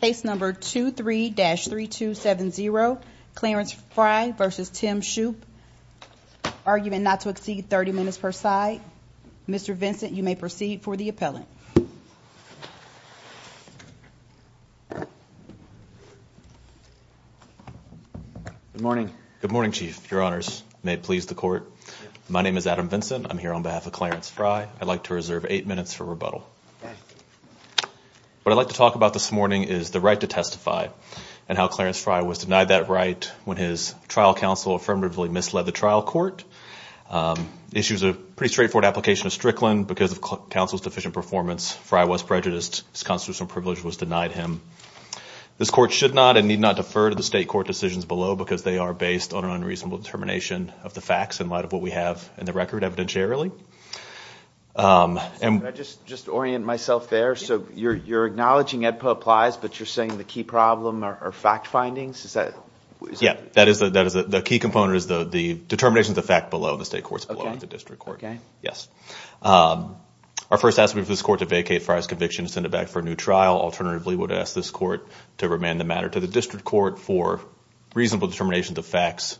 Case number 23-3270, Clarence Fry v. Tim Shoop, argument not to exceed 30 minutes per side. Mr. Vincent, you may proceed for the appellant. Good morning. Good morning, Chief. Your Honors. May it please the Court. My name is Adam Vincent. I'm here on behalf of Clarence Fry. I'd like to reserve eight minutes for rebuttal. What I'd like to talk about this morning is the right to testify and how Clarence Fry was denied that right when his trial counsel affirmatively misled the trial court. The issue is a pretty straightforward application of Strickland. Because of counsel's deficient performance, Fry was prejudiced. His constitutional privilege was denied him. This Court should not and need not defer to the State Court decisions below because they are based on an unreasonable determination of the facts in light of what we have in the record evidentiarily. Can I just orient myself there? So you're acknowledging AEDPA applies, but you're saying the key problem are fact findings? Yeah. The key component is the determination of the fact below, and the State Court's below, and the District Court. Yes. Our first estimate for this Court to vacate Fry's conviction and send it back for a new trial. Alternatively, we would ask this Court to remand the matter to the District Court for reasonable determinations of facts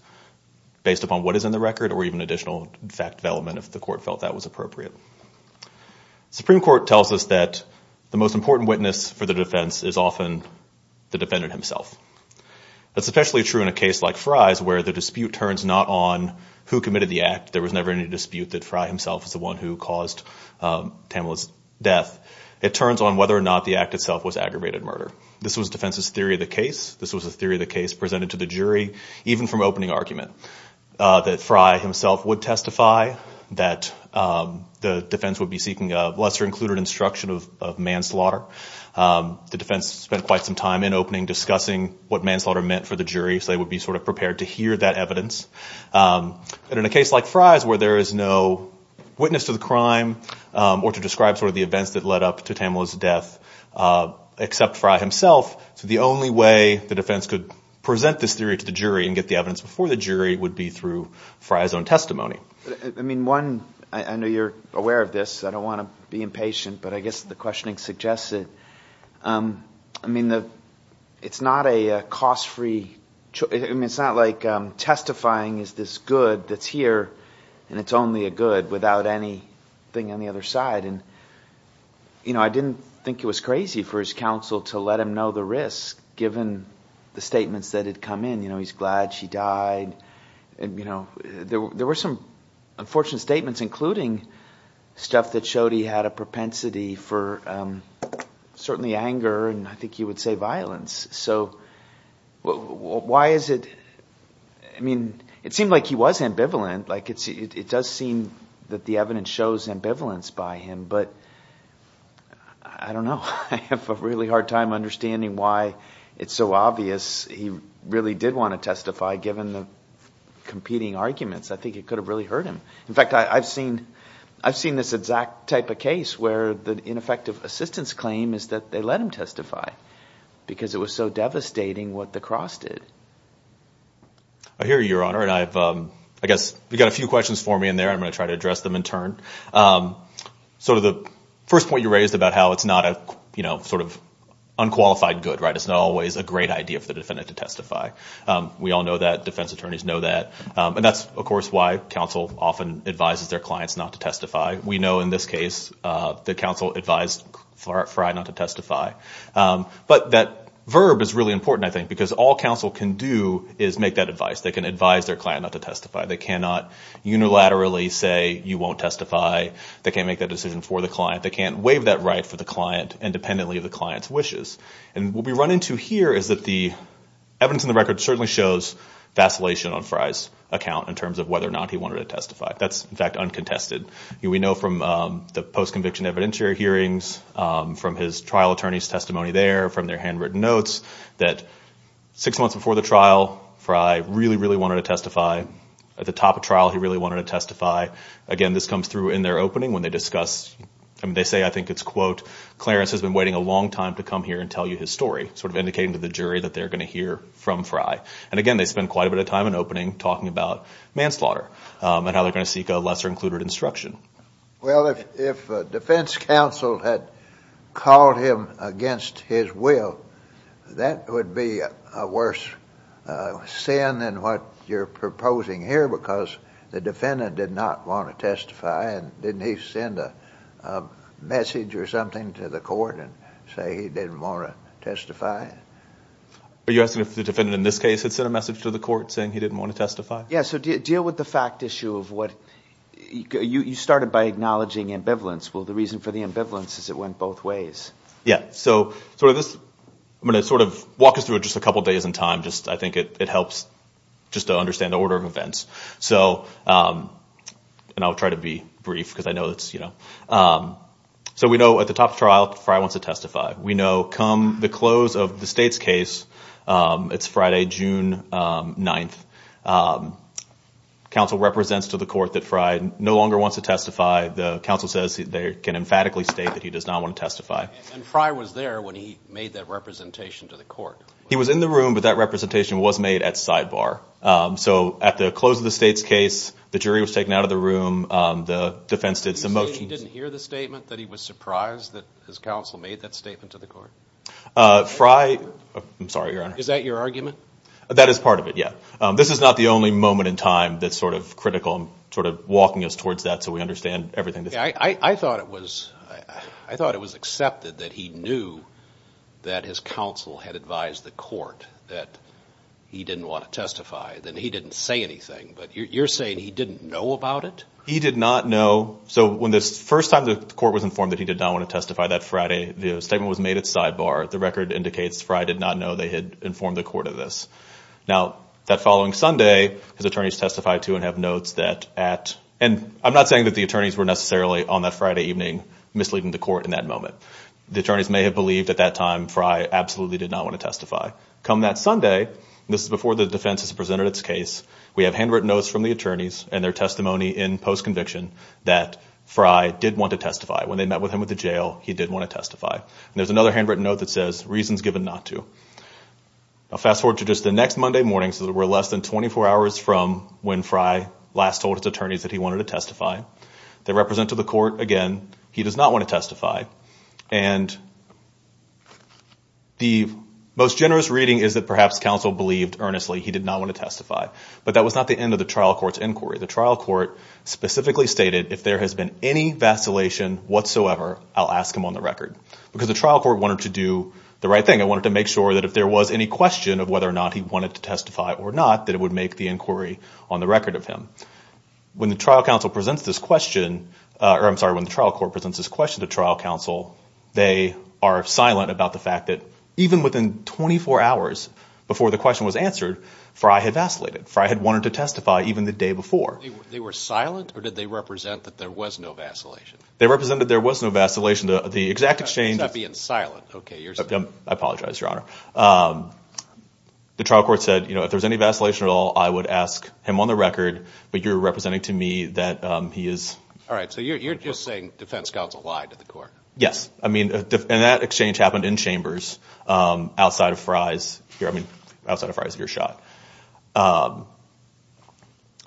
based upon what is in the record or even additional fact development if the Court felt that was appropriate. The Supreme Court tells us that the most important witness for the defense is often the defendant himself. That's especially true in a case like Fry's where the dispute turns not on who committed the act. There was never any dispute that Fry himself was the one who caused Tamela's death. It turns on whether or not the act itself was aggravated murder. This was defense's theory of the case. This was the theory of the case presented to the jury even from opening argument that Fry himself would testify, that the defense would be seeking a lesser included instruction of manslaughter. The defense spent quite some time in opening discussing what manslaughter meant for the jury so they would be sort of prepared to hear that evidence. In a case like Fry's where there is no witness to the crime or to describe sort of the events that led up to Tamela's death except Fry himself, the only way the defense could present this theory to the jury and get the evidence before the jury would be through Fry's own testimony. I mean, one, I know you're aware of this. I don't want to be impatient, but I guess the questioning suggests it. I mean, it's not a cost-free, I mean, it's not like testifying is this good that's here and it's only a good without anything on the other side. And, you know, I didn't think it was crazy for his counsel to let him know the risk given the statements that had come in, you know, he's glad she died. There were some unfortunate statements including stuff that showed he had a propensity for certainly anger and I think you would say violence. So why is it, I mean, it seemed like he was ambivalent. It does seem that the evidence shows ambivalence by him, but I don't know. I have a really hard time understanding why it's so obvious he really did want to testify given the competing arguments. I think it could have really hurt him. In fact, I've seen this exact type of case where the ineffective assistance claim is that they let him testify because it was so devastating what the cross did. I hear you, Your Honor, and I guess we've got a few questions for me in there. I'm going to try to address them in turn. So the first point you raised about how it's not a, you know, sort of unqualified good, right? It's not always a great idea for the defendant to testify. We all know that. Defense attorneys know that. And that's, of course, why counsel often advises their clients not to testify. We know in this case that counsel advised Frye not to testify. But that verb is really important, I think, because all counsel can do is make that advice. They can advise their client not to testify. They cannot unilaterally say you won't testify. They can't make that decision for the client. They can't waive that right for the client independently of the client's wishes. And what we run into here is that the evidence in the record certainly shows vacillation on Frye's account in terms of whether or not he wanted to testify. That's, in fact, uncontested. We know from the post-conviction evidentiary hearings, from his trial attorney's testimony there, from their handwritten notes that six months before the trial, Frye really, really wanted to testify. At the top of trial, he really wanted to testify. Again, this comes through in their opening when they discuss. They say, I think it's, quote, Clarence has been waiting a long time to come here and tell you his story, sort of indicating to the jury that they're going to hear from Frye. And, again, they spend quite a bit of time in opening talking about manslaughter and how they're going to seek a lesser-included instruction. Well, if defense counsel had called him against his will, that would be a worse sin than what you're proposing here because the defendant did not want to testify. And didn't he send a message or something to the court and say he didn't want to testify? Are you asking if the defendant in this case had sent a message to the court saying he didn't want to testify? Yes. So deal with the fact issue of what you started by acknowledging ambivalence. Well, the reason for the ambivalence is it went both ways. So I'm going to sort of walk us through it just a couple days in time. I think it helps just to understand the order of events. And I'll try to be brief because I know it's, you know. So we know at the top of trial, Frye wants to testify. We know come the close of the state's case, it's Friday, June 9th. Counsel represents to the court that Frye no longer wants to testify. The counsel says they can emphatically state that he does not want to testify. And Frye was there when he made that representation to the court. He was in the room, but that representation was made at sidebar. So at the close of the state's case, the jury was taken out of the room. The defense did some motions. He didn't hear the statement that he was surprised that his counsel made that statement to the court? Frye, I'm sorry, Your Honor. Is that your argument? That is part of it, yeah. This is not the only moment in time that's sort of critical, sort of walking us towards that so we understand everything. I thought it was accepted that he knew that his counsel had advised the court that he didn't want to testify, that he didn't say anything. But you're saying he didn't know about it? He did not know. So when the first time the court was informed that he did not want to testify that Friday, the statement was made at sidebar. The record indicates Frye did not know they had informed the court of this. Now, that following Sunday, his attorneys testified to and have notes that at, and I'm not saying that the attorneys were necessarily on that Friday evening misleading the court in that moment. The attorneys may have believed at that time Frye absolutely did not want to testify. Come that Sunday, this is before the defense has presented its case, we have handwritten notes from the attorneys and their testimony in post-conviction that Frye did want to testify. When they met with him at the jail, he did want to testify. And there's another handwritten note that says, reasons given not to. Now, fast forward to just the next Monday morning, so we're less than 24 hours from when Frye last told his attorneys that he wanted to testify. They represented the court again. He does not want to testify. And the most generous reading is that perhaps counsel believed earnestly he did not want to testify. But that was not the end of the trial court's inquiry. The trial court specifically stated, if there has been any vacillation whatsoever, I'll ask him on the record. Because the trial court wanted to do the right thing. It wanted to make sure that if there was any question of whether or not he wanted to testify or not, that it would make the inquiry on the record of him. When the trial court presents this question to trial counsel, they are silent about the fact that even within 24 hours before the question was answered, Frye had vacillated. Frye had wanted to testify even the day before. They were silent, or did they represent that there was no vacillation? They represented there was no vacillation. The exact exchange is— So that being silent, okay. I apologize, Your Honor. The trial court said, if there's any vacillation at all, I would ask him on the record. But you're representing to me that he is— All right. So you're just saying defense counsel lied to the court. Yes. And that exchange happened in Chambers outside of Frye's— I mean, outside of Frye's earshot.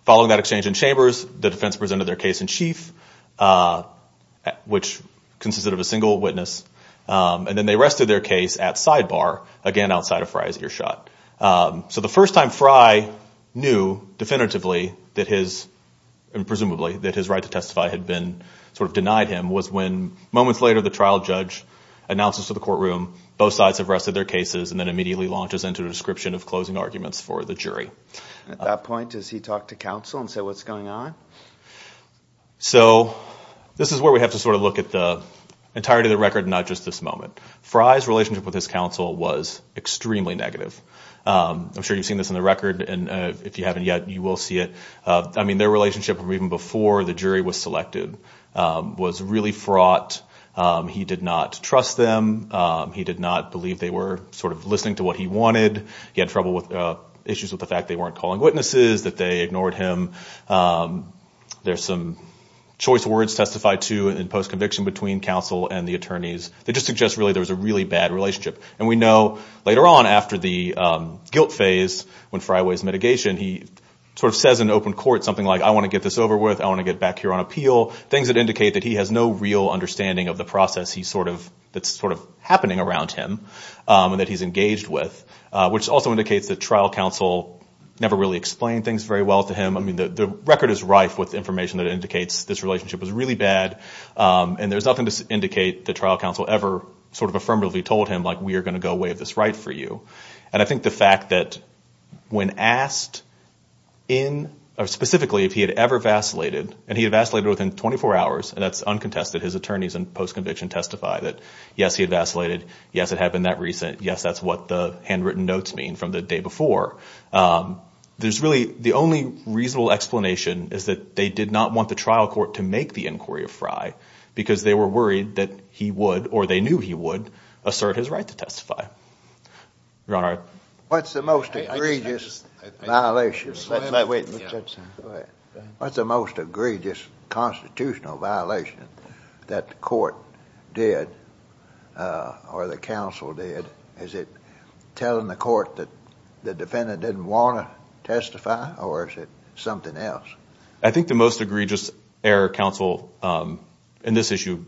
Following that exchange in Chambers, the defense presented their case in chief, which consisted of a single witness. And then they rested their case at sidebar, again outside of Frye's earshot. So the first time Frye knew definitively that his— and presumably that his right to testify had been sort of denied him was when moments later the trial judge announces to the courtroom both sides have rested their cases and then immediately launches into a description of closing arguments for the jury. At that point, does he talk to counsel and say, what's going on? So this is where we have to sort of look at the entirety of the record and not just this moment. Frye's relationship with his counsel was extremely negative. I'm sure you've seen this on the record, and if you haven't yet, you will see it. I mean, their relationship even before the jury was selected was really fraught. He did not trust them. He did not believe they were sort of listening to what he wanted. He had trouble with issues with the fact they weren't calling witnesses, that they ignored him. There's some choice words testified to in post-conviction between counsel and the attorneys that just suggest really there was a really bad relationship. And we know later on after the guilt phase when Frye waives mitigation, he sort of says in open court something like, I want to get this over with. I want to get back here on appeal, things that indicate that he has no real understanding of the process that's sort of happening around him and that he's engaged with, which also indicates that trial counsel never really explained things very well to him. I mean, the record is rife with information that indicates this relationship was really bad, and there's nothing to indicate that trial counsel ever sort of affirmatively told him, like, we are going to go waive this right for you. And I think the fact that when asked specifically if he had ever vacillated, and he vacillated within 24 hours, and that's uncontested. His attorneys in post-conviction testify that, yes, he vacillated. Yes, it had been that recent. Yes, that's what the handwritten notes mean from the day before. There's really the only reasonable explanation is that they did not want the trial court to make the inquiry of Frye because they were worried that he would, or they knew he would, assert his right to testify. Your Honor. What's the most egregious violation? Go ahead. What's the most egregious constitutional violation that the court did or the counsel did? Is it telling the court that the defendant didn't want to testify, or is it something else? I think the most egregious error counsel in this issue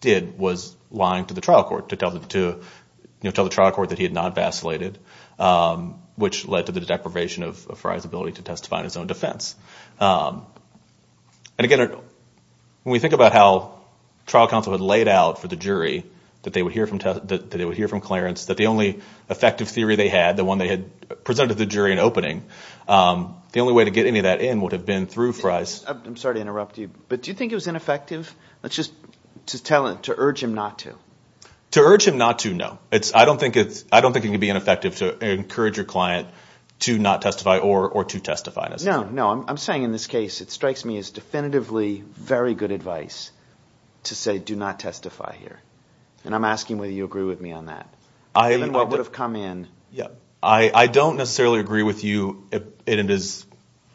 did was lying to the trial court to tell the trial court that he had not vacillated, which led to the deprivation of Frye's ability to testify in his own defense. And, again, when we think about how trial counsel had laid out for the jury that they would hear from Clarence that the only effective theory they had, the one they had presented to the jury in opening, the only way to get any of that in would have been through Frye's. I'm sorry to interrupt you, but do you think it was ineffective to urge him not to? To urge him not to, no. I don't think it can be ineffective to encourage your client to not testify or to testify necessarily. No, no. I'm saying in this case it strikes me as definitively very good advice to say do not testify here. And I'm asking whether you agree with me on that. Given what would have come in. I don't necessarily agree with you, and it is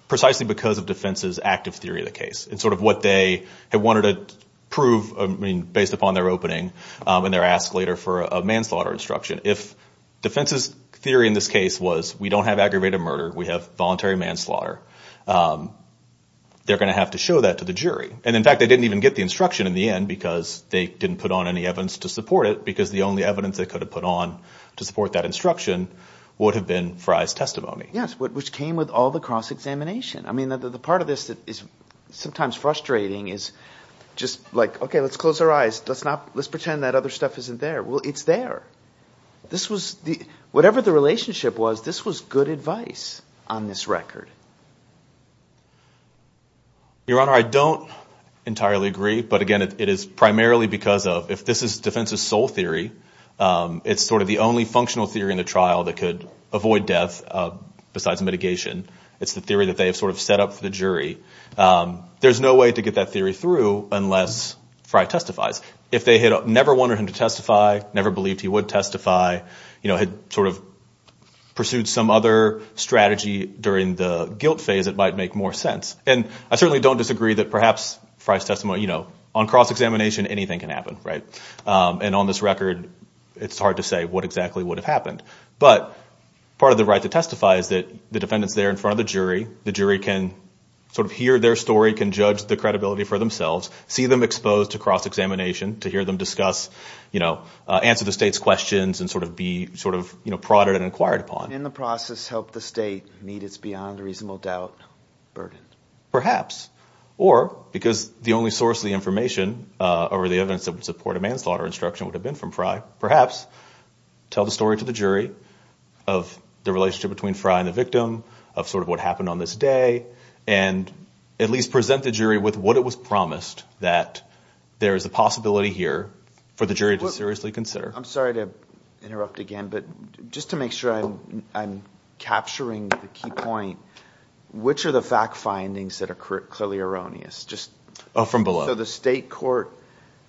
precisely because of defense's active theory of the case. And sort of what they had wanted to prove based upon their opening and their ask later for a manslaughter instruction. If defense's theory in this case was we don't have aggravated murder, we have voluntary manslaughter, they're going to have to show that to the jury. And, in fact, they didn't even get the instruction in the end because they didn't put on any evidence to support it because the only evidence they could have put on to support that instruction would have been Frye's testimony. Yes, which came with all the cross-examination. I mean, the part of this that is sometimes frustrating is just like, okay, let's close our eyes. Let's pretend that other stuff isn't there. Well, it's there. Whatever the relationship was, this was good advice on this record. Your Honor, I don't entirely agree. But, again, it is primarily because of if this is defense's sole theory, it's sort of the only functional theory in the trial that could avoid death besides mitigation. It's the theory that they have sort of set up for the jury. There's no way to get that theory through unless Frye testifies. If they had never wanted him to testify, never believed he would testify, had sort of pursued some other strategy during the guilt phase, it might make more sense. And I certainly don't disagree that perhaps Frye's testimony, you know, on cross-examination, anything can happen. And on this record, it's hard to say what exactly would have happened. But part of the right to testify is that the defendant's there in front of the jury. The jury can sort of hear their story, can judge the credibility for themselves, see them exposed to cross-examination, to hear them discuss, you know, answer the state's questions and sort of be sort of prodded and inquired upon. In the process, help the state meet its beyond reasonable doubt burden. Perhaps. Or, because the only source of the information or the evidence that would support a manslaughter instruction would have been from Frye, perhaps tell the story to the jury of the relationship between Frye and the victim, of sort of what happened on this day, and at least present the jury with what it was promised, that there is a possibility here for the jury to seriously consider. I'm sorry to interrupt again, but just to make sure I'm capturing the key point, which are the fact findings that are clearly erroneous? Oh, from below. So the state court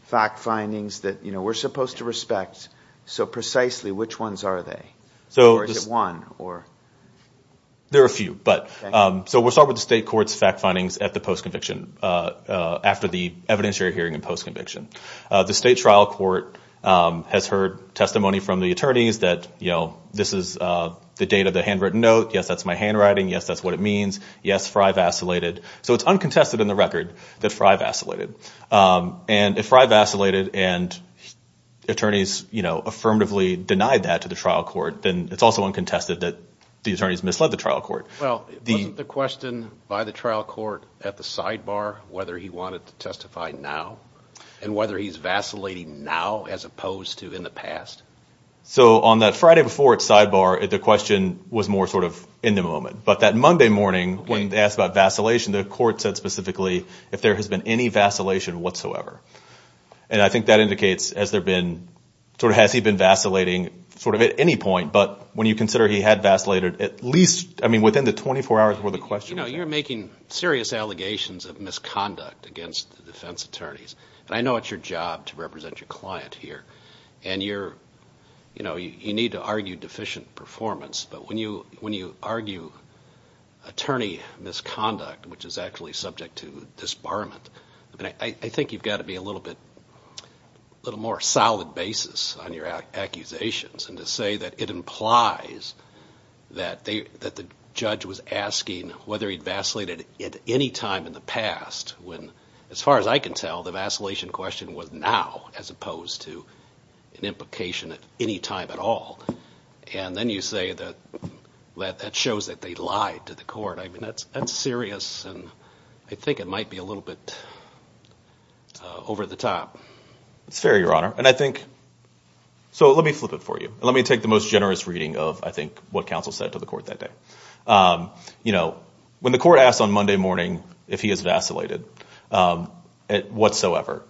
fact findings that we're supposed to respect, so precisely which ones are they? Or is it one? There are a few. So we'll start with the state court's fact findings at the post-conviction, after the evidentiary hearing and post-conviction. The state trial court has heard testimony from the attorneys that this is the date of the handwritten note, yes, that's my handwriting, yes, that's what it means, yes, Frye vacillated. So it's uncontested in the record that Frye vacillated. And if Frye vacillated and attorneys affirmatively denied that to the trial court, then it's also uncontested that the attorneys misled the trial court. Well, wasn't the question by the trial court at the sidebar whether he wanted to testify now and whether he's vacillating now as opposed to in the past? So on that Friday before at sidebar, the question was more sort of in the moment. But that Monday morning when they asked about vacillation, the court said specifically if there has been any vacillation whatsoever. And I think that indicates has there been sort of has he been vacillating sort of at any point, but when you consider he had vacillated at least, I mean, within the 24 hours where the question was asked. You're making serious allegations of misconduct against the defense attorneys. And I know it's your job to represent your client here. And you need to argue deficient performance. But when you argue attorney misconduct, which is actually subject to disbarment, I think you've got to be a little bit more solid basis on your accusations and to say that it implies that the judge was asking whether he'd vacillated at any time in the past. As far as I can tell, the vacillation question was now as opposed to an implication at any time at all. And then you say that that shows that they lied to the court. I mean, that's serious. And I think it might be a little bit over the top. It's fair, Your Honor. And I think so let me flip it for you. Let me take the most generous reading of, I think, what counsel said to the court that day. You know, when the court asked on Monday morning if he has vacillated whatsoever,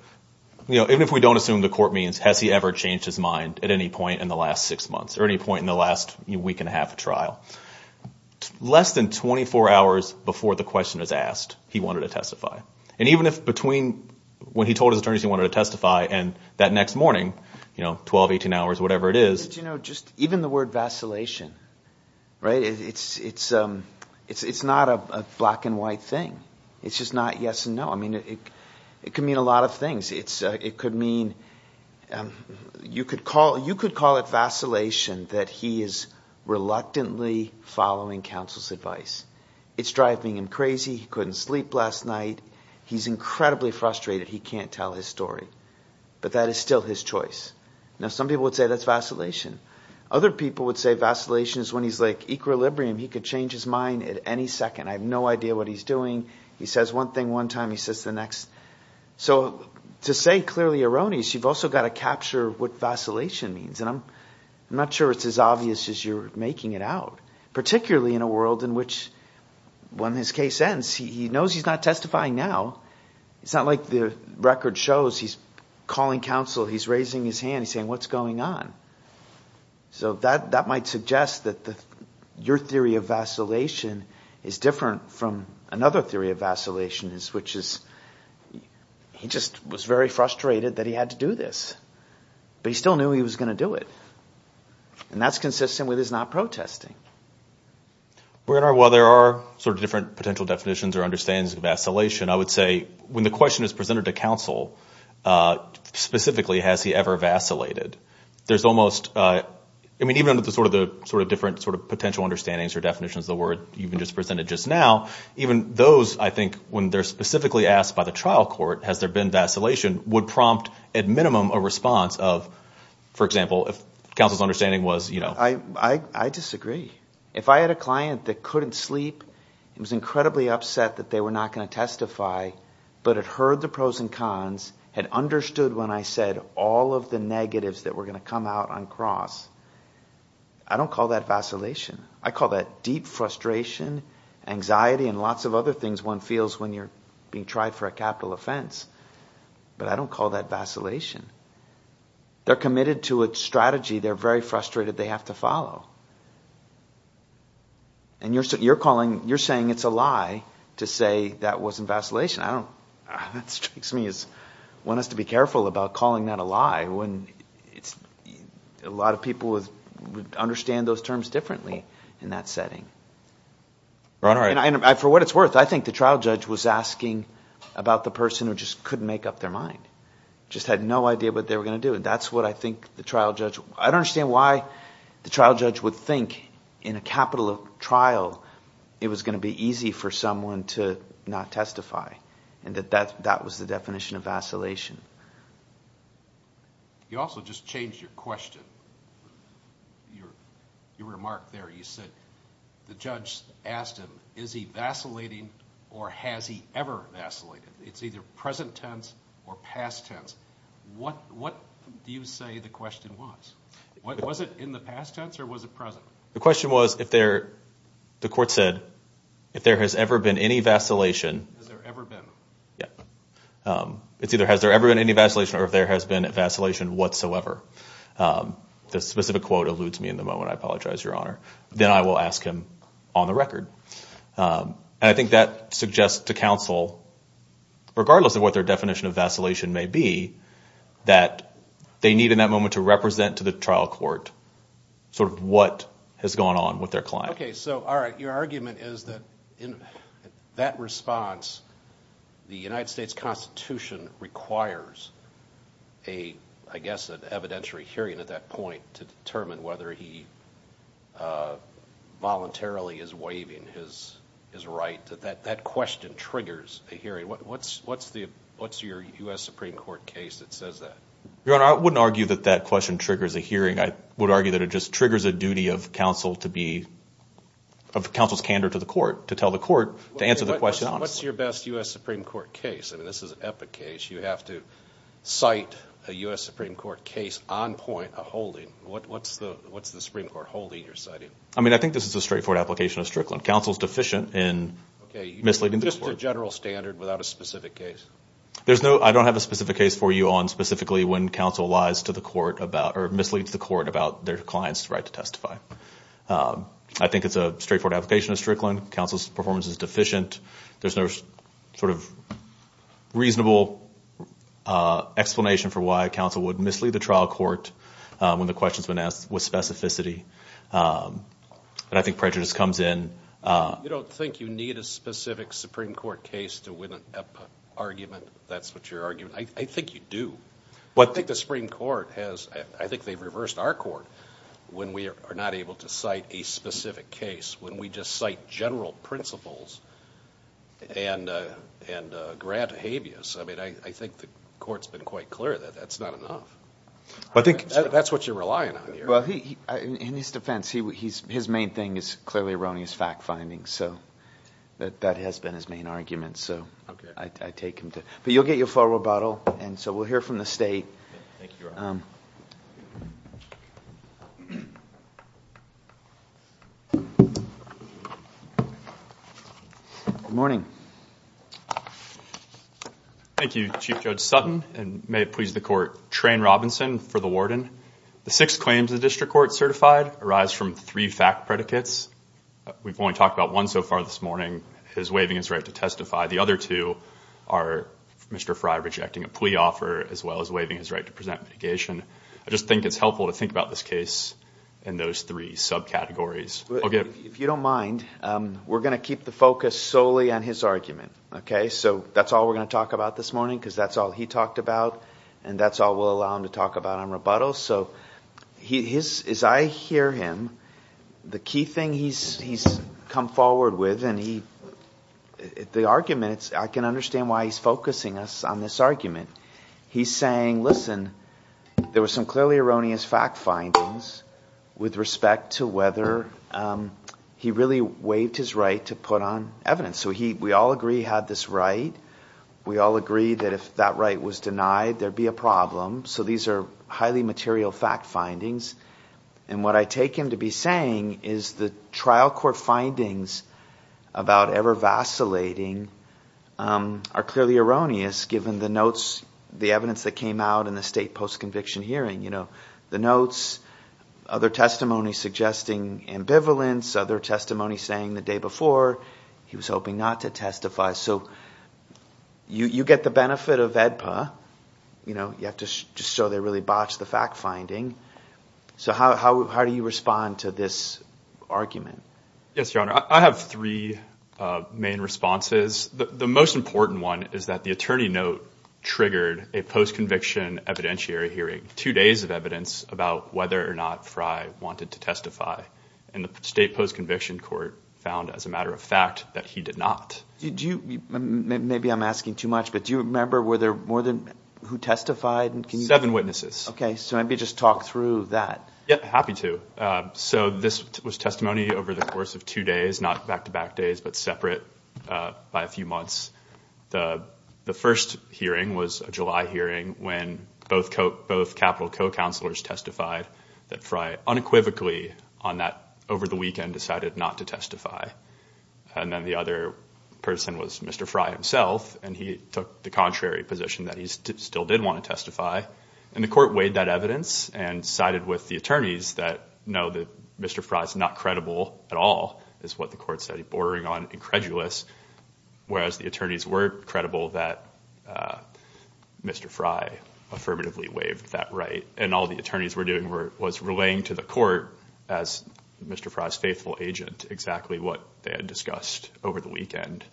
even if we don't assume the court means has he ever changed his mind at any point in the last six months or any point in the last week and a half of trial, less than 24 hours before the question was asked, he wanted to testify. And even if between when he told his attorneys he wanted to testify and that next morning, 12, 18 hours, whatever it is. But, you know, just even the word vacillation, right, it's not a black and white thing. It's just not yes and no. I mean, it could mean a lot of things. It could mean you could call it vacillation that he is reluctantly following counsel's advice. It's driving him crazy. He couldn't sleep last night. He's incredibly frustrated. He can't tell his story. But that is still his choice. Now, some people would say that's vacillation. Other people would say vacillation is when he's like equilibrium. He could change his mind at any second. I have no idea what he's doing. He says one thing one time. He says the next. So to say clearly erroneous, you've also got to capture what vacillation means. And I'm not sure it's as obvious as you're making it out, particularly in a world in which when his case ends, he knows he's not testifying now. It's not like the record shows he's calling counsel. He's raising his hand. He's saying, what's going on? So that might suggest that your theory of vacillation is different from another theory of vacillation, which is he just was very frustrated that he had to do this. But he still knew he was going to do it. And that's consistent with his not protesting. Well, there are sort of different potential definitions or understandings of vacillation. I would say when the question is presented to counsel, specifically, has he ever vacillated? There's almost – I mean, even under the sort of different sort of potential understandings or definitions of the word you just presented just now, even those, I think, when they're specifically asked by the trial court, has there been vacillation, would prompt at minimum a response of, for example, if counsel's understanding was – I disagree. If I had a client that couldn't sleep and was incredibly upset that they were not going to testify but had heard the pros and cons, had understood when I said all of the negatives that were going to come out on cross, I don't call that vacillation. I call that deep frustration, anxiety, and lots of other things one feels when you're being tried for a capital offense. But I don't call that vacillation. They're committed to a strategy. They're very frustrated. They have to follow. And you're calling – you're saying it's a lie to say that wasn't vacillation. I don't – that strikes me as one has to be careful about calling that a lie when it's – a lot of people would understand those terms differently in that setting. And for what it's worth, I think the trial judge was asking about the person who just couldn't make up their mind, just had no idea what they were going to do. And that's what I think the trial judge – I don't understand why the trial judge would think in a capital trial it was going to be easy for someone to not testify and that that was the definition of vacillation. You also just changed your question. Your remark there, you said the judge asked him, is he vacillating or has he ever vacillated? It's either present tense or past tense. What do you say the question was? Was it in the past tense or was it present? The question was if there – the court said if there has ever been any vacillation. Has there ever been? Yeah. It's either has there ever been any vacillation or if there has been vacillation whatsoever. The specific quote eludes me in the moment. I apologize, Your Honor. Then I will ask him on the record. And I think that suggests to counsel, regardless of what their definition of vacillation may be, that they need in that moment to represent to the trial court sort of what has gone on with their client. Okay. So, all right. Your argument is that in that response, the United States Constitution requires a, I guess, an evidentiary hearing at that point to determine whether he voluntarily is waiving his right. That question triggers a hearing. What's your U.S. Supreme Court case that says that? Your Honor, I wouldn't argue that that question triggers a hearing. I would argue that it just triggers a duty of counsel to be – of counsel's candor to the court to tell the court to answer the question honestly. What's your best U.S. Supreme Court case? I mean, this is an epic case. You have to cite a U.S. Supreme Court case on point, a holding. What's the Supreme Court holding you're citing? I mean, I think this is a straightforward application of Strickland. Counsel is deficient in misleading the court. Okay. Just a general standard without a specific case. There's no – I don't have a specific case for you on specifically when counsel lies to the court about or misleads the court about their client's right to testify. I think it's a straightforward application of Strickland. Counsel's performance is deficient. There's no sort of reasonable explanation for why counsel would mislead the trial court when the question has been asked with specificity. But I think prejudice comes in. You don't think you need a specific Supreme Court case to win an epic argument, if that's what you're arguing? I think you do. But I think the Supreme Court has – I think they've reversed our court when we are not able to cite a specific case. When we just cite general principles and grant habeas, I mean, I think the court's been quite clear that that's not enough. I think that's what you're relying on here. Well, in his defense, his main thing is clearly erroneous fact findings. So that has been his main argument. So I take him to – but you'll get your full rebuttal. And so we'll hear from the state. Thank you, Your Honor. Good morning. Thank you, Chief Judge Sutton, and may it please the court, Trane Robinson for the warden. The six claims the district court certified arise from three fact predicates. We've only talked about one so far this morning. His waiving his right to testify. The other two are Mr. Frey rejecting a plea offer as well as waiving his right to present mitigation. I just think it's helpful to think about this case in those three subcategories. If you don't mind, we're going to keep the focus solely on his argument. So that's all we're going to talk about this morning because that's all he talked about, and that's all we'll allow him to talk about on rebuttal. So as I hear him, the key thing he's come forward with, and I can understand why he's focusing us on this argument. He's saying, listen, there were some clearly erroneous fact findings with respect to whether he really waived his right to put on evidence. So we all agree he had this right. We all agree that if that right was denied, there would be a problem. So these are highly material fact findings. And what I take him to be saying is the trial court findings about ever vacillating are clearly erroneous given the notes, the evidence that came out in the state post-conviction hearing. The notes, other testimony suggesting ambivalence, other testimony saying the day before he was hoping not to testify. So you get the benefit of AEDPA. You have to show they really botched the fact finding. So how do you respond to this argument? Yes, Your Honor. I have three main responses. The most important one is that the attorney note triggered a post-conviction evidentiary hearing, two days of evidence about whether or not Frye wanted to testify, and the state post-conviction court found as a matter of fact that he did not. Maybe I'm asking too much, but do you remember were there more than who testified? Seven witnesses. Okay, so maybe just talk through that. Yes, happy to. So this was testimony over the course of two days, not back-to-back days, but separate by a few months. The first hearing was a July hearing when both capital co-counselors testified that Frye unequivocally on that over the weekend decided not to testify. And then the other person was Mr. Frye himself, and he took the contrary position that he still did want to testify. And the court weighed that evidence and sided with the attorneys that, no, Mr. Frye is not credible at all is what the court said, bordering on incredulous, whereas the attorneys were credible that Mr. Frye affirmatively waived that right. And all the attorneys were doing was relaying to the court, as Mr. Frye's faithful agent, exactly what they had discussed over the weekend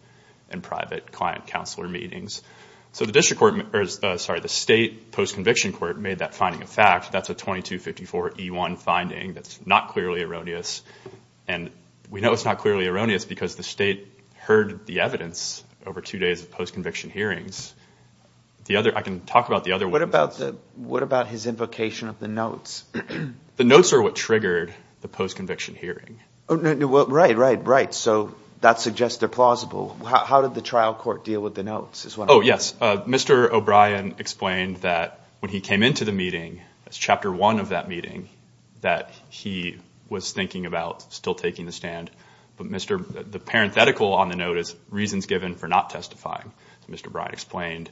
in private client-counselor meetings. So the state post-conviction court made that finding a fact. That's a 2254E1 finding that's not clearly erroneous. And we know it's not clearly erroneous because the state heard the evidence over two days of post-conviction hearings. I can talk about the other one. What about his invocation of the notes? The notes are what triggered the post-conviction hearing. Right, right, right. So that suggests they're plausible. How did the trial court deal with the notes? Oh, yes, Mr. O'Brien explained that when he came into the meeting, that's Chapter 1 of that meeting, that he was thinking about still taking the stand. But the parenthetical on the note is reasons given for not testifying. Mr. O'Brien explained,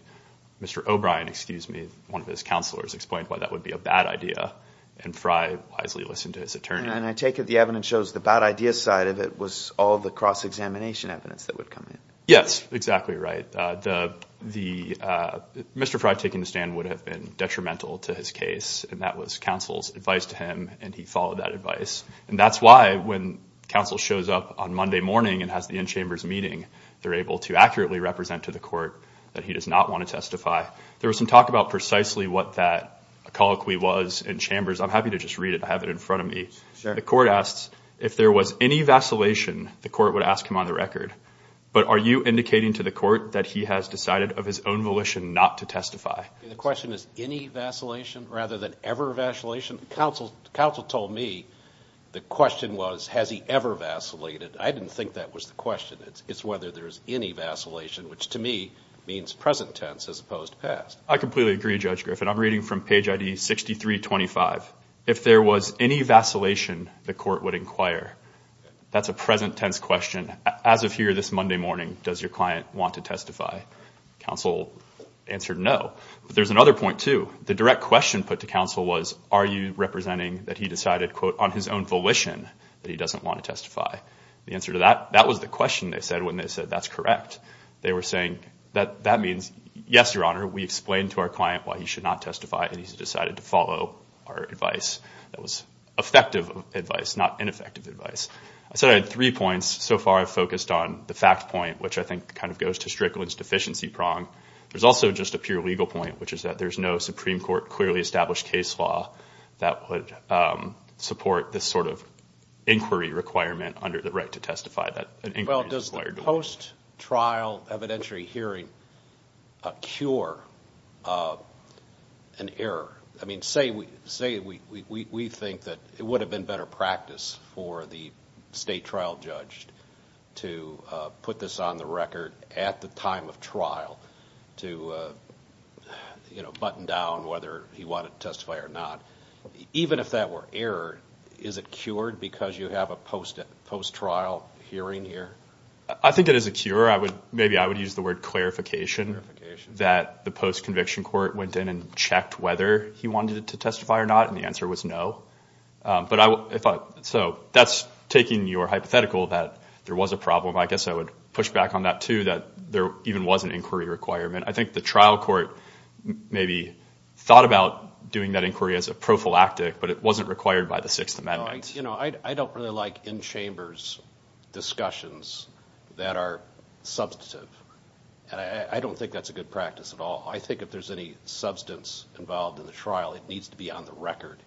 Mr. O'Brien, excuse me, one of his counselors explained why that would be a bad idea, and Frye wisely listened to his attorney. And I take it the evidence shows the bad idea side of it was all the cross-examination evidence that would come in. Yes, exactly right. Mr. Frye taking the stand would have been detrimental to his case, and that was counsel's advice to him, and he followed that advice. And that's why when counsel shows up on Monday morning and has the in-chambers meeting, they're able to accurately represent to the court that he does not want to testify. There was some talk about precisely what that colloquy was in chambers. I'm happy to just read it and have it in front of me. The court asks, if there was any vacillation, the court would ask him on the record. But are you indicating to the court that he has decided of his own volition not to testify? The question is any vacillation rather than ever vacillation. Counsel told me the question was has he ever vacillated. I didn't think that was the question. It's whether there's any vacillation, which to me means present tense as opposed to past. I completely agree, Judge Griffin. I'm reading from page ID 6325. If there was any vacillation, the court would inquire. That's a present tense question. As of here this Monday morning, does your client want to testify? Counsel answered no. But there's another point, too. The direct question put to counsel was are you representing that he decided, quote, on his own volition that he doesn't want to testify? The answer to that, that was the question they said when they said that's correct. They were saying that that means, yes, Your Honor, we explained to our client why he should not testify, and he's decided to follow our advice. That was effective advice, not ineffective advice. I said I had three points. So far I've focused on the fact point, which I think kind of goes to Strickland's deficiency prong. There's also just a pure legal point, which is that there's no Supreme Court clearly established case law that would support this sort of inquiry requirement under the right to testify. Well, does the post-trial evidentiary hearing cure an error? I mean, say we think that it would have been better practice for the state trial judge to put this on the record at the time of trial to, you know, button down whether he wanted to testify or not. Even if that were error, is it cured because you have a post-trial hearing here? I think it is a cure. Maybe I would use the word clarification that the post-conviction court went in and checked whether he wanted to testify or not, and the answer was no. So that's taking your hypothetical that there was a problem. I guess I would push back on that, too, that there even was an inquiry requirement. I think the trial court maybe thought about doing that inquiry as a prophylactic, but it wasn't required by the Sixth Amendment. You know, I don't really like in-chambers discussions that are substantive, and I don't think that's a good practice at all. I think if there's any substance involved in the trial, it needs to be on the record,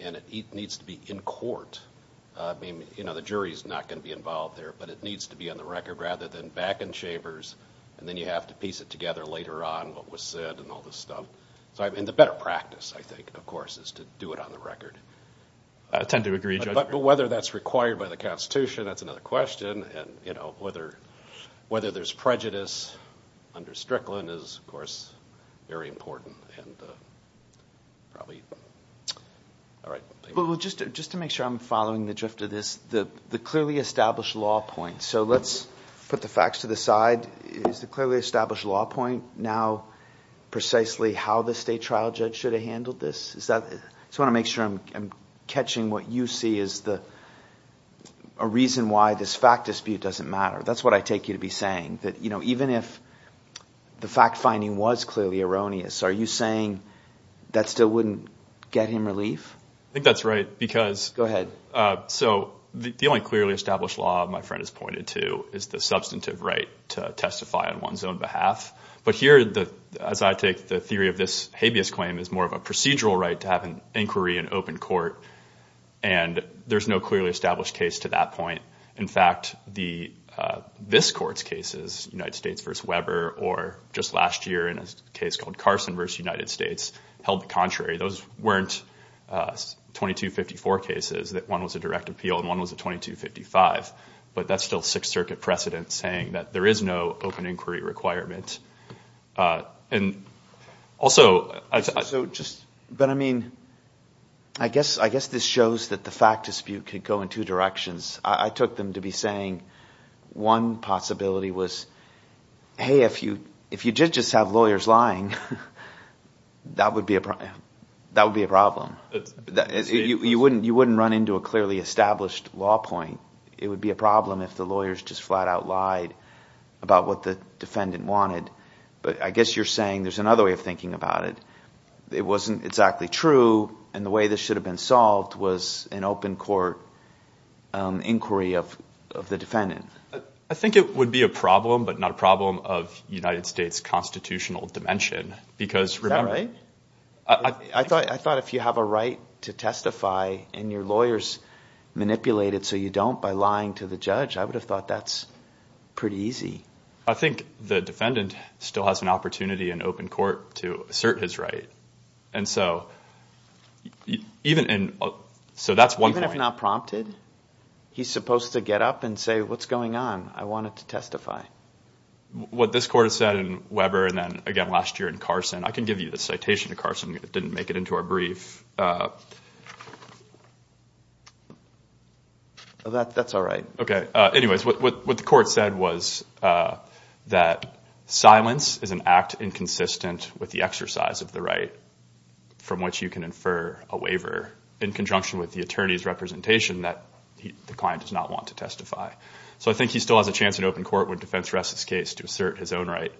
and it needs to be in court. I mean, you know, the jury's not going to be involved there, but it needs to be on the record rather than back in chambers, and then you have to piece it together later on, what was said and all this stuff. And the better practice, I think, of course, is to do it on the record. I tend to agree, Judge. But whether that's required by the Constitution, that's another question, and, you know, whether there's prejudice under Strickland is, of course, very important. Just to make sure I'm following the drift of this, the clearly established law point, so let's put the facts to the side. Is the clearly established law point now precisely how the state trial judge should have handled this? I just want to make sure I'm catching what you see as a reason why this fact dispute doesn't matter. That's what I take you to be saying, that, you know, even if the fact-finding was clearly erroneous, are you saying that still wouldn't get him relief? I think that's right. Go ahead. So the only clearly established law my friend has pointed to is the substantive right to testify on one's own behalf. But here, as I take the theory of this habeas claim, it's more of a procedural right to have an inquiry in open court, and there's no clearly established case to that point. In fact, this Court's cases, United States v. Weber, or just last year in a case called Carson v. United States, held the contrary. Those weren't 2254 cases, that one was a direct appeal and one was a 2255. But that's still Sixth Circuit precedent saying that there is no open inquiry requirement. And also – But, I mean, I guess this shows that the fact dispute could go in two directions. I took them to be saying one possibility was, hey, if you did just have lawyers lying, that would be a problem. You wouldn't run into a clearly established law point. It would be a problem if the lawyers just flat out lied about what the defendant wanted. But I guess you're saying there's another way of thinking about it. It wasn't exactly true, and the way this should have been solved was an open court inquiry of the defendant. I think it would be a problem, but not a problem of United States constitutional dimension. Is that right? I thought if you have a right to testify and your lawyers manipulate it so you don't by lying to the judge, I would have thought that's pretty easy. I think the defendant still has an opportunity in open court to assert his right. And so that's one point. Even if not prompted? He's supposed to get up and say, what's going on? I wanted to testify. What this court has said in Weber and then again last year in Carson, I can give you the citation to Carson. It didn't make it into our brief. That's all right. Okay. Anyways, what the court said was that silence is an act inconsistent with the exercise of the right from which you can infer a waiver. In conjunction with the attorney's representation that the client does not want to testify. So I think he still has a chance in open court when defense rests his case to assert his own right.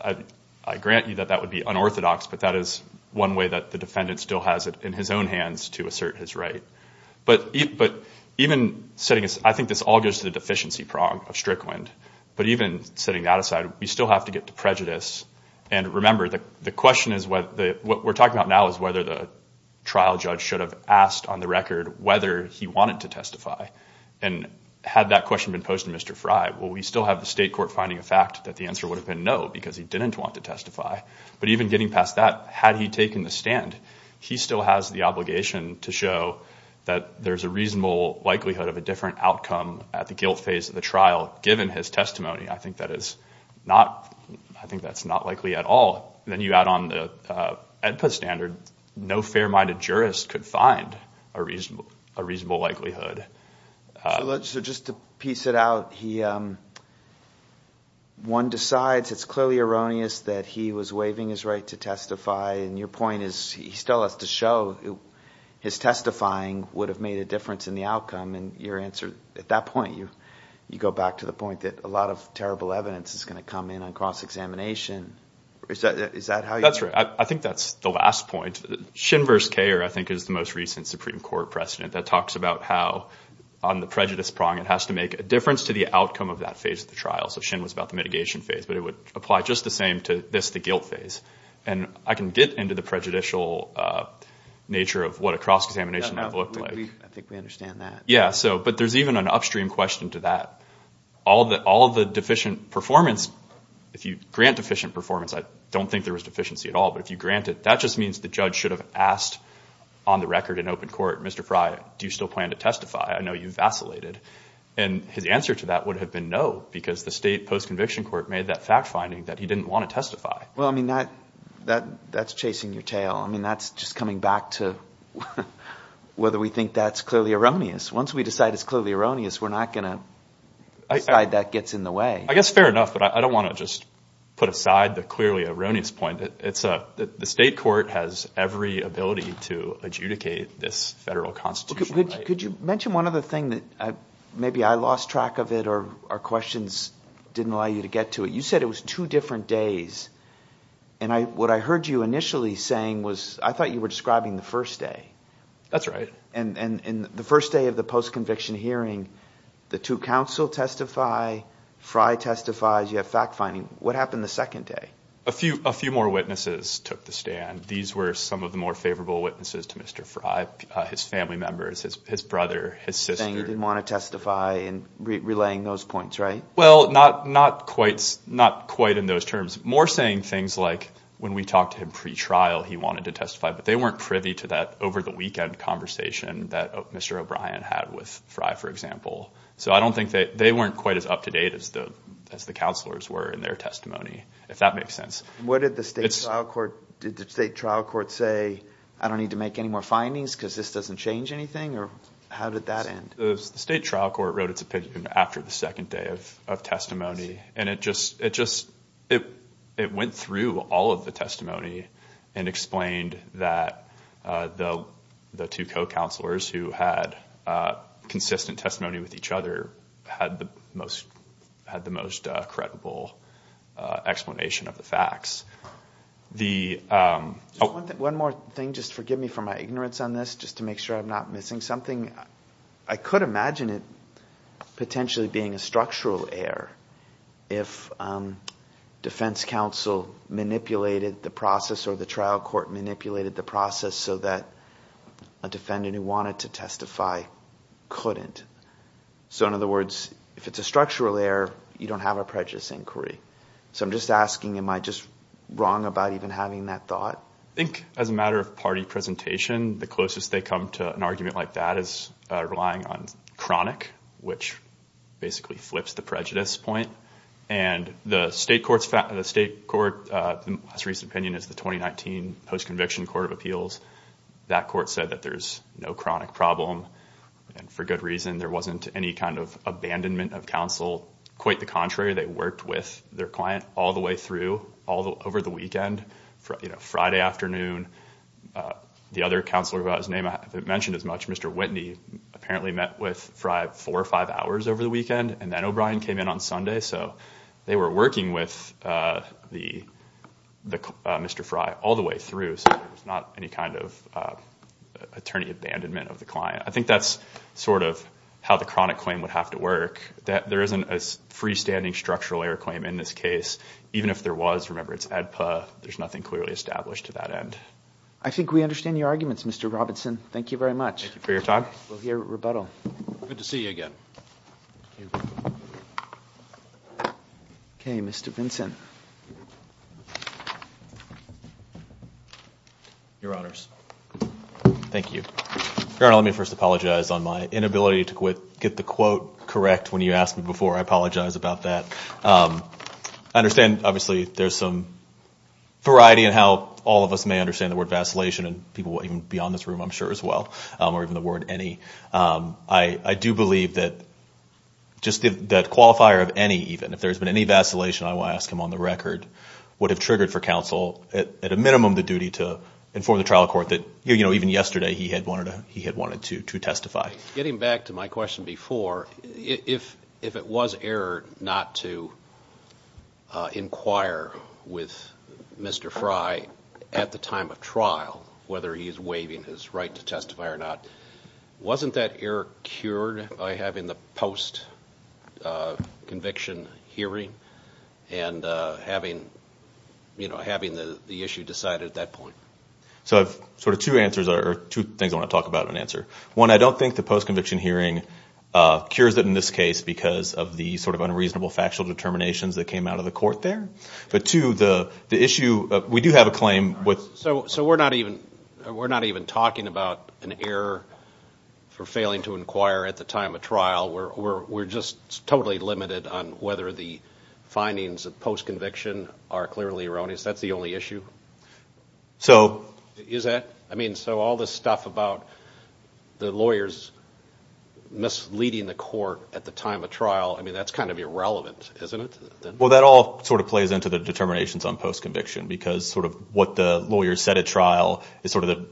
I grant you that that would be unorthodox, but that is one way that the defendant still has it in his own hands to assert his right. But even setting this, I think this all goes to the deficiency prong of Strickland. But even setting that aside, we still have to get to prejudice. And remember, the question is what we're talking about now is whether the trial judge should have asked on the record whether he wanted to testify. And had that question been posed to Mr. Frey, well, we still have the state court finding a fact that the answer would have been no because he didn't want to testify. But even getting past that, had he taken the stand, he still has the obligation to show that there's a reasonable likelihood of a different outcome at the guilt phase of the trial. Given his testimony, I think that's not likely at all. Then you add on the EDPA standard, no fair-minded jurist could find a reasonable likelihood. So just to piece it out, one decides it's clearly erroneous that he was waiving his right to testify. And your point is he still has to show his testifying would have made a difference in the outcome. I mean, your answer at that point, you go back to the point that a lot of terrible evidence is going to come in on cross-examination. Is that how you – That's right. I think that's the last point. Shin versus Kayer I think is the most recent Supreme Court precedent that talks about how on the prejudice prong, it has to make a difference to the outcome of that phase of the trial. So Shin was about the mitigation phase, but it would apply just the same to this, the guilt phase. And I can get into the prejudicial nature of what a cross-examination would have looked like. I think we understand that. Yeah, so – but there's even an upstream question to that. All the deficient performance – if you grant deficient performance, I don't think there was deficiency at all. But if you grant it, that just means the judge should have asked on the record in open court, Mr. Frye, do you still plan to testify? I know you vacillated. And his answer to that would have been no because the state post-conviction court made that fact finding that he didn't want to testify. Well, I mean, that's chasing your tail. I mean that's just coming back to whether we think that's clearly erroneous. Once we decide it's clearly erroneous, we're not going to decide that gets in the way. I guess fair enough, but I don't want to just put aside the clearly erroneous point. It's – the state court has every ability to adjudicate this federal constitutional right. Could you mention one other thing that – maybe I lost track of it or our questions didn't allow you to get to it. You said it was two different days. And what I heard you initially saying was I thought you were describing the first day. That's right. And the first day of the post-conviction hearing, the two counsel testify, Frye testifies, you have fact finding. What happened the second day? A few more witnesses took the stand. These were some of the more favorable witnesses to Mr. Frye, his family members, his brother, his sister. Saying he didn't want to testify and relaying those points, right? Well, not quite in those terms. More saying things like when we talked to him pretrial, he wanted to testify, but they weren't privy to that over-the-weekend conversation that Mr. O'Brien had with Frye, for example. So I don't think they – they weren't quite as up-to-date as the counselors were in their testimony, if that makes sense. What did the state trial court – did the state trial court say I don't need to make any more findings because this doesn't change anything? Or how did that end? The state trial court wrote its opinion after the second day of testimony, and it just – it went through all of the testimony and explained that the two co-counselors who had consistent testimony with each other had the most credible explanation of the facts. The – One more thing, just forgive me for my ignorance on this, just to make sure I'm not missing something. I could imagine it potentially being a structural error if defense counsel manipulated the process or the trial court manipulated the process so that a defendant who wanted to testify couldn't. So in other words, if it's a structural error, you don't have a prejudice inquiry. So I'm just asking, am I just wrong about even having that thought? I think as a matter of party presentation, the closest they come to an argument like that is relying on chronic, which basically flips the prejudice point. And the state court's – the state court's most recent opinion is the 2019 Post-Conviction Court of Appeals. That court said that there's no chronic problem, and for good reason. There wasn't any kind of abandonment of counsel. Quite the contrary, they worked with their client all the way through, all over the weekend. You know, Friday afternoon, the other counselor without his name, I haven't mentioned as much, Mr. Whitney, apparently met with Fry four or five hours over the weekend, and then O'Brien came in on Sunday. So they were working with the – Mr. Fry all the way through, so there's not any kind of attorney abandonment of the client. I think that's sort of how the chronic claim would have to work. There isn't a freestanding structural error claim in this case, even if there was. Remember, it's ADPA. There's nothing clearly established to that end. I think we understand your arguments, Mr. Robinson. Thank you very much. Thank you for your talk. We'll hear rebuttal. Good to see you again. Okay, Mr. Vinson. Your Honors, thank you. Your Honor, let me first apologize on my inability to get the quote correct when you asked me before. I apologize about that. I understand, obviously, there's some variety in how all of us may understand the word vacillation, and people will even be on this room, I'm sure, as well, or even the word any. I do believe that just that qualifier of any, even, if there's been any vacillation, I will ask him on the record, would have triggered for counsel, at a minimum, the duty to inform the trial court that, you know, even yesterday he had wanted to testify. Getting back to my question before, if it was error not to inquire with Mr. Frey at the time of trial, whether he is waiving his right to testify or not, wasn't that error cured by having the post-conviction hearing and having, you know, having the issue decided at that point? So I have sort of two answers, or two things I want to talk about in answer. One, I don't think the post-conviction hearing cures it in this case because of the sort of unreasonable factual determinations that came out of the court there. But two, the issue, we do have a claim with. So we're not even talking about an error for failing to inquire at the time of trial. We're just totally limited on whether the findings of post-conviction are clearly erroneous. That's the only issue? So. Is that? I mean, so all this stuff about the lawyers misleading the court at the time of trial, I mean, that's kind of irrelevant, isn't it? Well, that all sort of plays into the determinations on post-conviction because sort of what the lawyers said at trial is sort of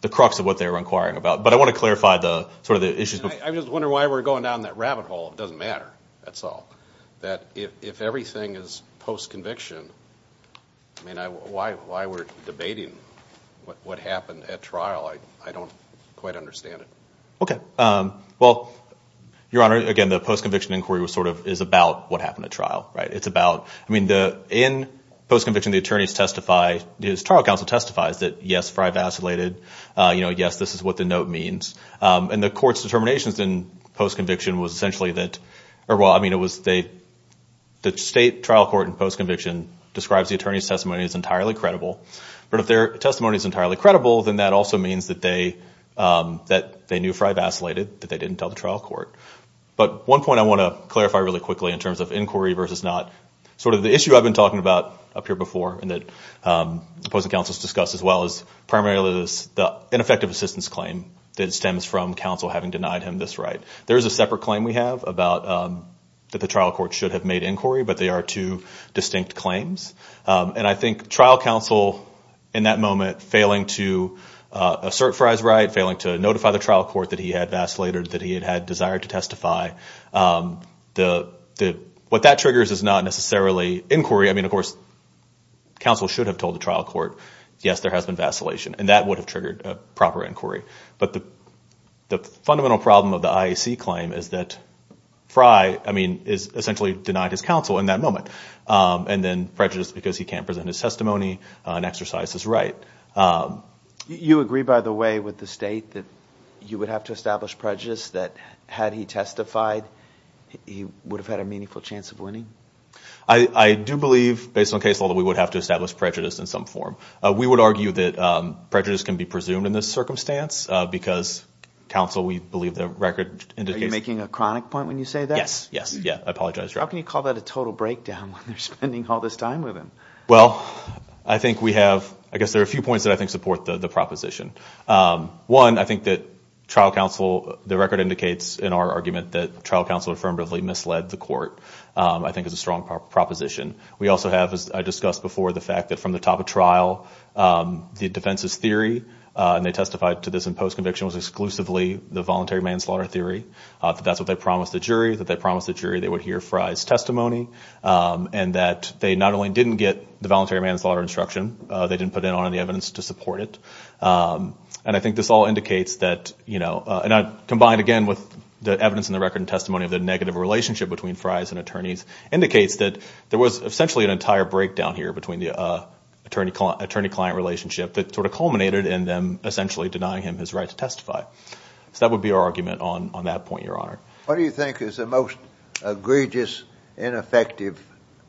the crux of what they were inquiring about. But I want to clarify sort of the issues. I'm just wondering why we're going down that rabbit hole. It doesn't matter, that's all. That if everything is post-conviction, I mean, why we're debating what happened at trial, I don't quite understand it. Okay. Well, Your Honor, again, the post-conviction inquiry was sort of – is about what happened at trial, right? It's about – I mean, in post-conviction, the attorneys testify – the trial counsel testifies that, yes, Fry vacillated. Yes, this is what the note means. And the court's determinations in post-conviction was essentially that – or, well, I mean, it was – the state trial court in post-conviction describes the attorney's testimony as entirely credible. But if their testimony is entirely credible, then that also means that they knew Fry vacillated, that they didn't tell the trial court. But one point I want to clarify really quickly in terms of inquiry versus not, sort of the issue I've been talking about up here before and that opposing counsels discussed as well is primarily the ineffective assistance claim that stems from counsel having denied him this right. There is a separate claim we have about that the trial court should have made inquiry, but they are two distinct claims. And I think trial counsel in that moment failing to assert Fry's right, failing to notify the trial court that he had vacillated, that he had had desire to testify, what that triggers is not necessarily inquiry. I mean, of course, counsel should have told the trial court, yes, there has been vacillation, and that would have triggered a proper inquiry. But the fundamental problem of the IAC claim is that Fry, I mean, is essentially denied his counsel in that moment and then prejudice because he can't present his testimony and exercise his right. You agree, by the way, with the state that you would have to establish prejudice that had he testified, he would have had a meaningful chance of winning? I do believe, based on case law, that we would have to establish prejudice in some form. We would argue that prejudice can be presumed in this circumstance because, counsel, we believe the record indicates that. Are you making a chronic point when you say that? Yes, yes. Yeah, I apologize. How can you call that a total breakdown when they're spending all this time with him? Well, I think we have, I guess there are a few points that I think support the proposition. One, I think that trial counsel, the record indicates in our argument that trial counsel affirmatively misled the court, I think is a strong proposition. We also have, as I discussed before, the fact that from the top of trial, the defense's theory, and they testified to this in post-conviction was exclusively the voluntary manslaughter theory, that that's what they promised the jury, that they promised the jury they would hear Fry's testimony, and that they not only didn't get the voluntary manslaughter instruction, they didn't put in on any evidence to support it. And I think this all indicates that, you know, and I combined again with the evidence in the record and testimony of the negative relationship between Fry's and attorneys, indicates that there was essentially an entire breakdown here between the attorney-client relationship that sort of culminated in them essentially denying him his right to testify. So that would be our argument on that point, Your Honor. What do you think is the most egregious, ineffective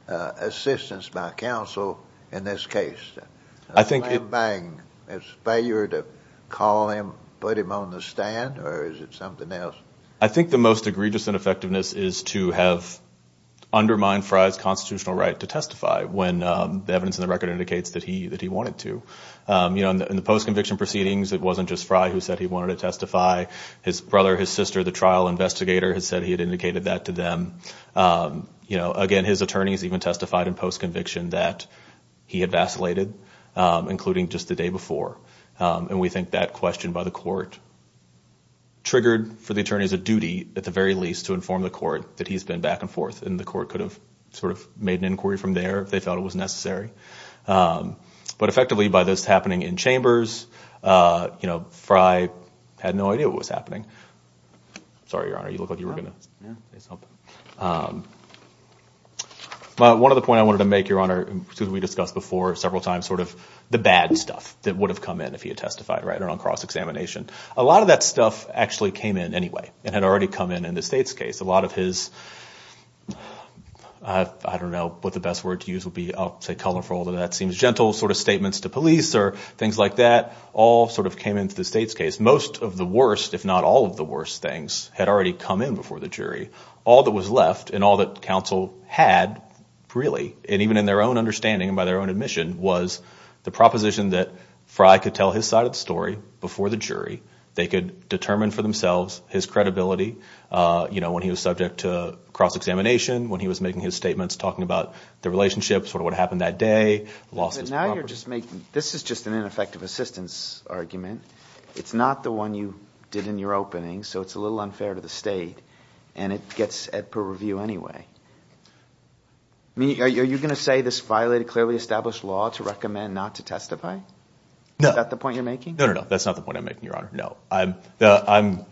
assistance by counsel in this case? I think it's failure to call him, put him on the stand, or is it something else? I think the most egregious ineffectiveness is to have undermined Fry's constitutional right to testify when the evidence in the record indicates that he wanted to. You know, in the post-conviction proceedings, it wasn't just Fry who said he wanted to testify. His brother, his sister, the trial investigator, had said he had indicated that to them. You know, again, his attorneys even testified in post-conviction that he had vacillated, including just the day before. And we think that question by the court triggered for the attorneys a duty, at the very least, to inform the court that he's been back and forth, and the court could have sort of made an inquiry from there if they felt it was necessary. But effectively, by this happening in chambers, you know, Fry had no idea what was happening. Sorry, Your Honor, you look like you were going to say something. One other point I wanted to make, Your Honor, as we discussed before several times, sort of the bad stuff that would have come in if he had testified, right, on cross-examination. A lot of that stuff actually came in anyway and had already come in in the State's case. A lot of his, I don't know what the best word to use would be. I'll say colorful, although that seems gentle, sort of statements to police or things like that, all sort of came into the State's case. Most of the worst, if not all of the worst things, had already come in before the jury. All that was left and all that counsel had really, and even in their own understanding and by their own admission, was the proposition that Fry could tell his side of the story before the jury. They could determine for themselves his credibility, you know, when he was subject to cross-examination, when he was making his statements, talking about the relationship, sort of what happened that day. Now you're just making, this is just an ineffective assistance argument. It's not the one you did in your opening, so it's a little unfair to the State, and it gets per review anyway. Are you going to say this violated clearly established law to recommend not to testify? Is that the point you're making? No, no, no. That's not the point I'm making, Your Honor. No. I'm – I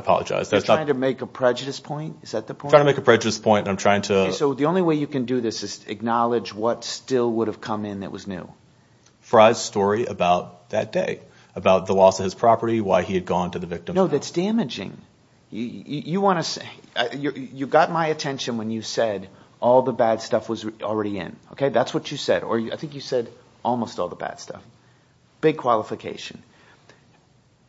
apologize. You're trying to make a prejudice point? Is that the point? I'm trying to make a prejudice point, and I'm trying to – So the only way you can do this is to acknowledge what still would have come in that was new. Fry's story about that day, about the loss of his property, why he had gone to the victim. No, that's damaging. You want to – you got my attention when you said all the bad stuff was already in. That's what you said, or I think you said almost all the bad stuff. Big qualification.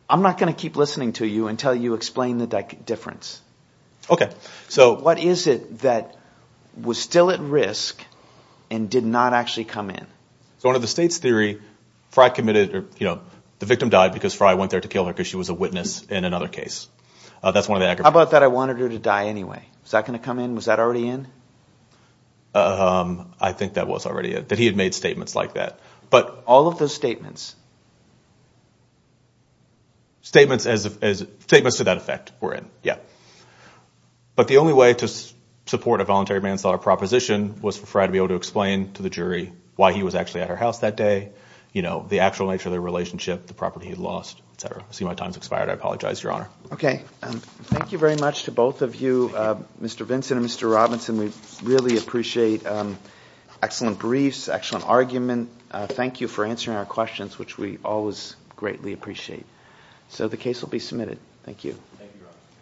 I'm not going to keep listening to you until you explain the difference. What is it that was still at risk and did not actually come in? So under the State's theory, Fry committed – the victim died because Fry went there to kill her because she was a witness in another case. That's one of the aggravations. How about that I wanted her to die anyway? Is that going to come in? Was that already in? I think that was already in, that he had made statements like that. All of those statements? Statements to that effect were in, yeah. But the only way to support a voluntary manslaughter proposition was for Fry to be able to explain to the jury why he was actually at her house that day, the actual nature of their relationship, the property he lost, et cetera. I see my time has expired. I apologize, Your Honor. Okay. Thank you very much to both of you, Mr. Vinson and Mr. Robinson. We really appreciate excellent briefs, excellent argument. Thank you for answering our questions, which we always greatly appreciate. So the case will be submitted. Thank you. Thank you, Your Honor.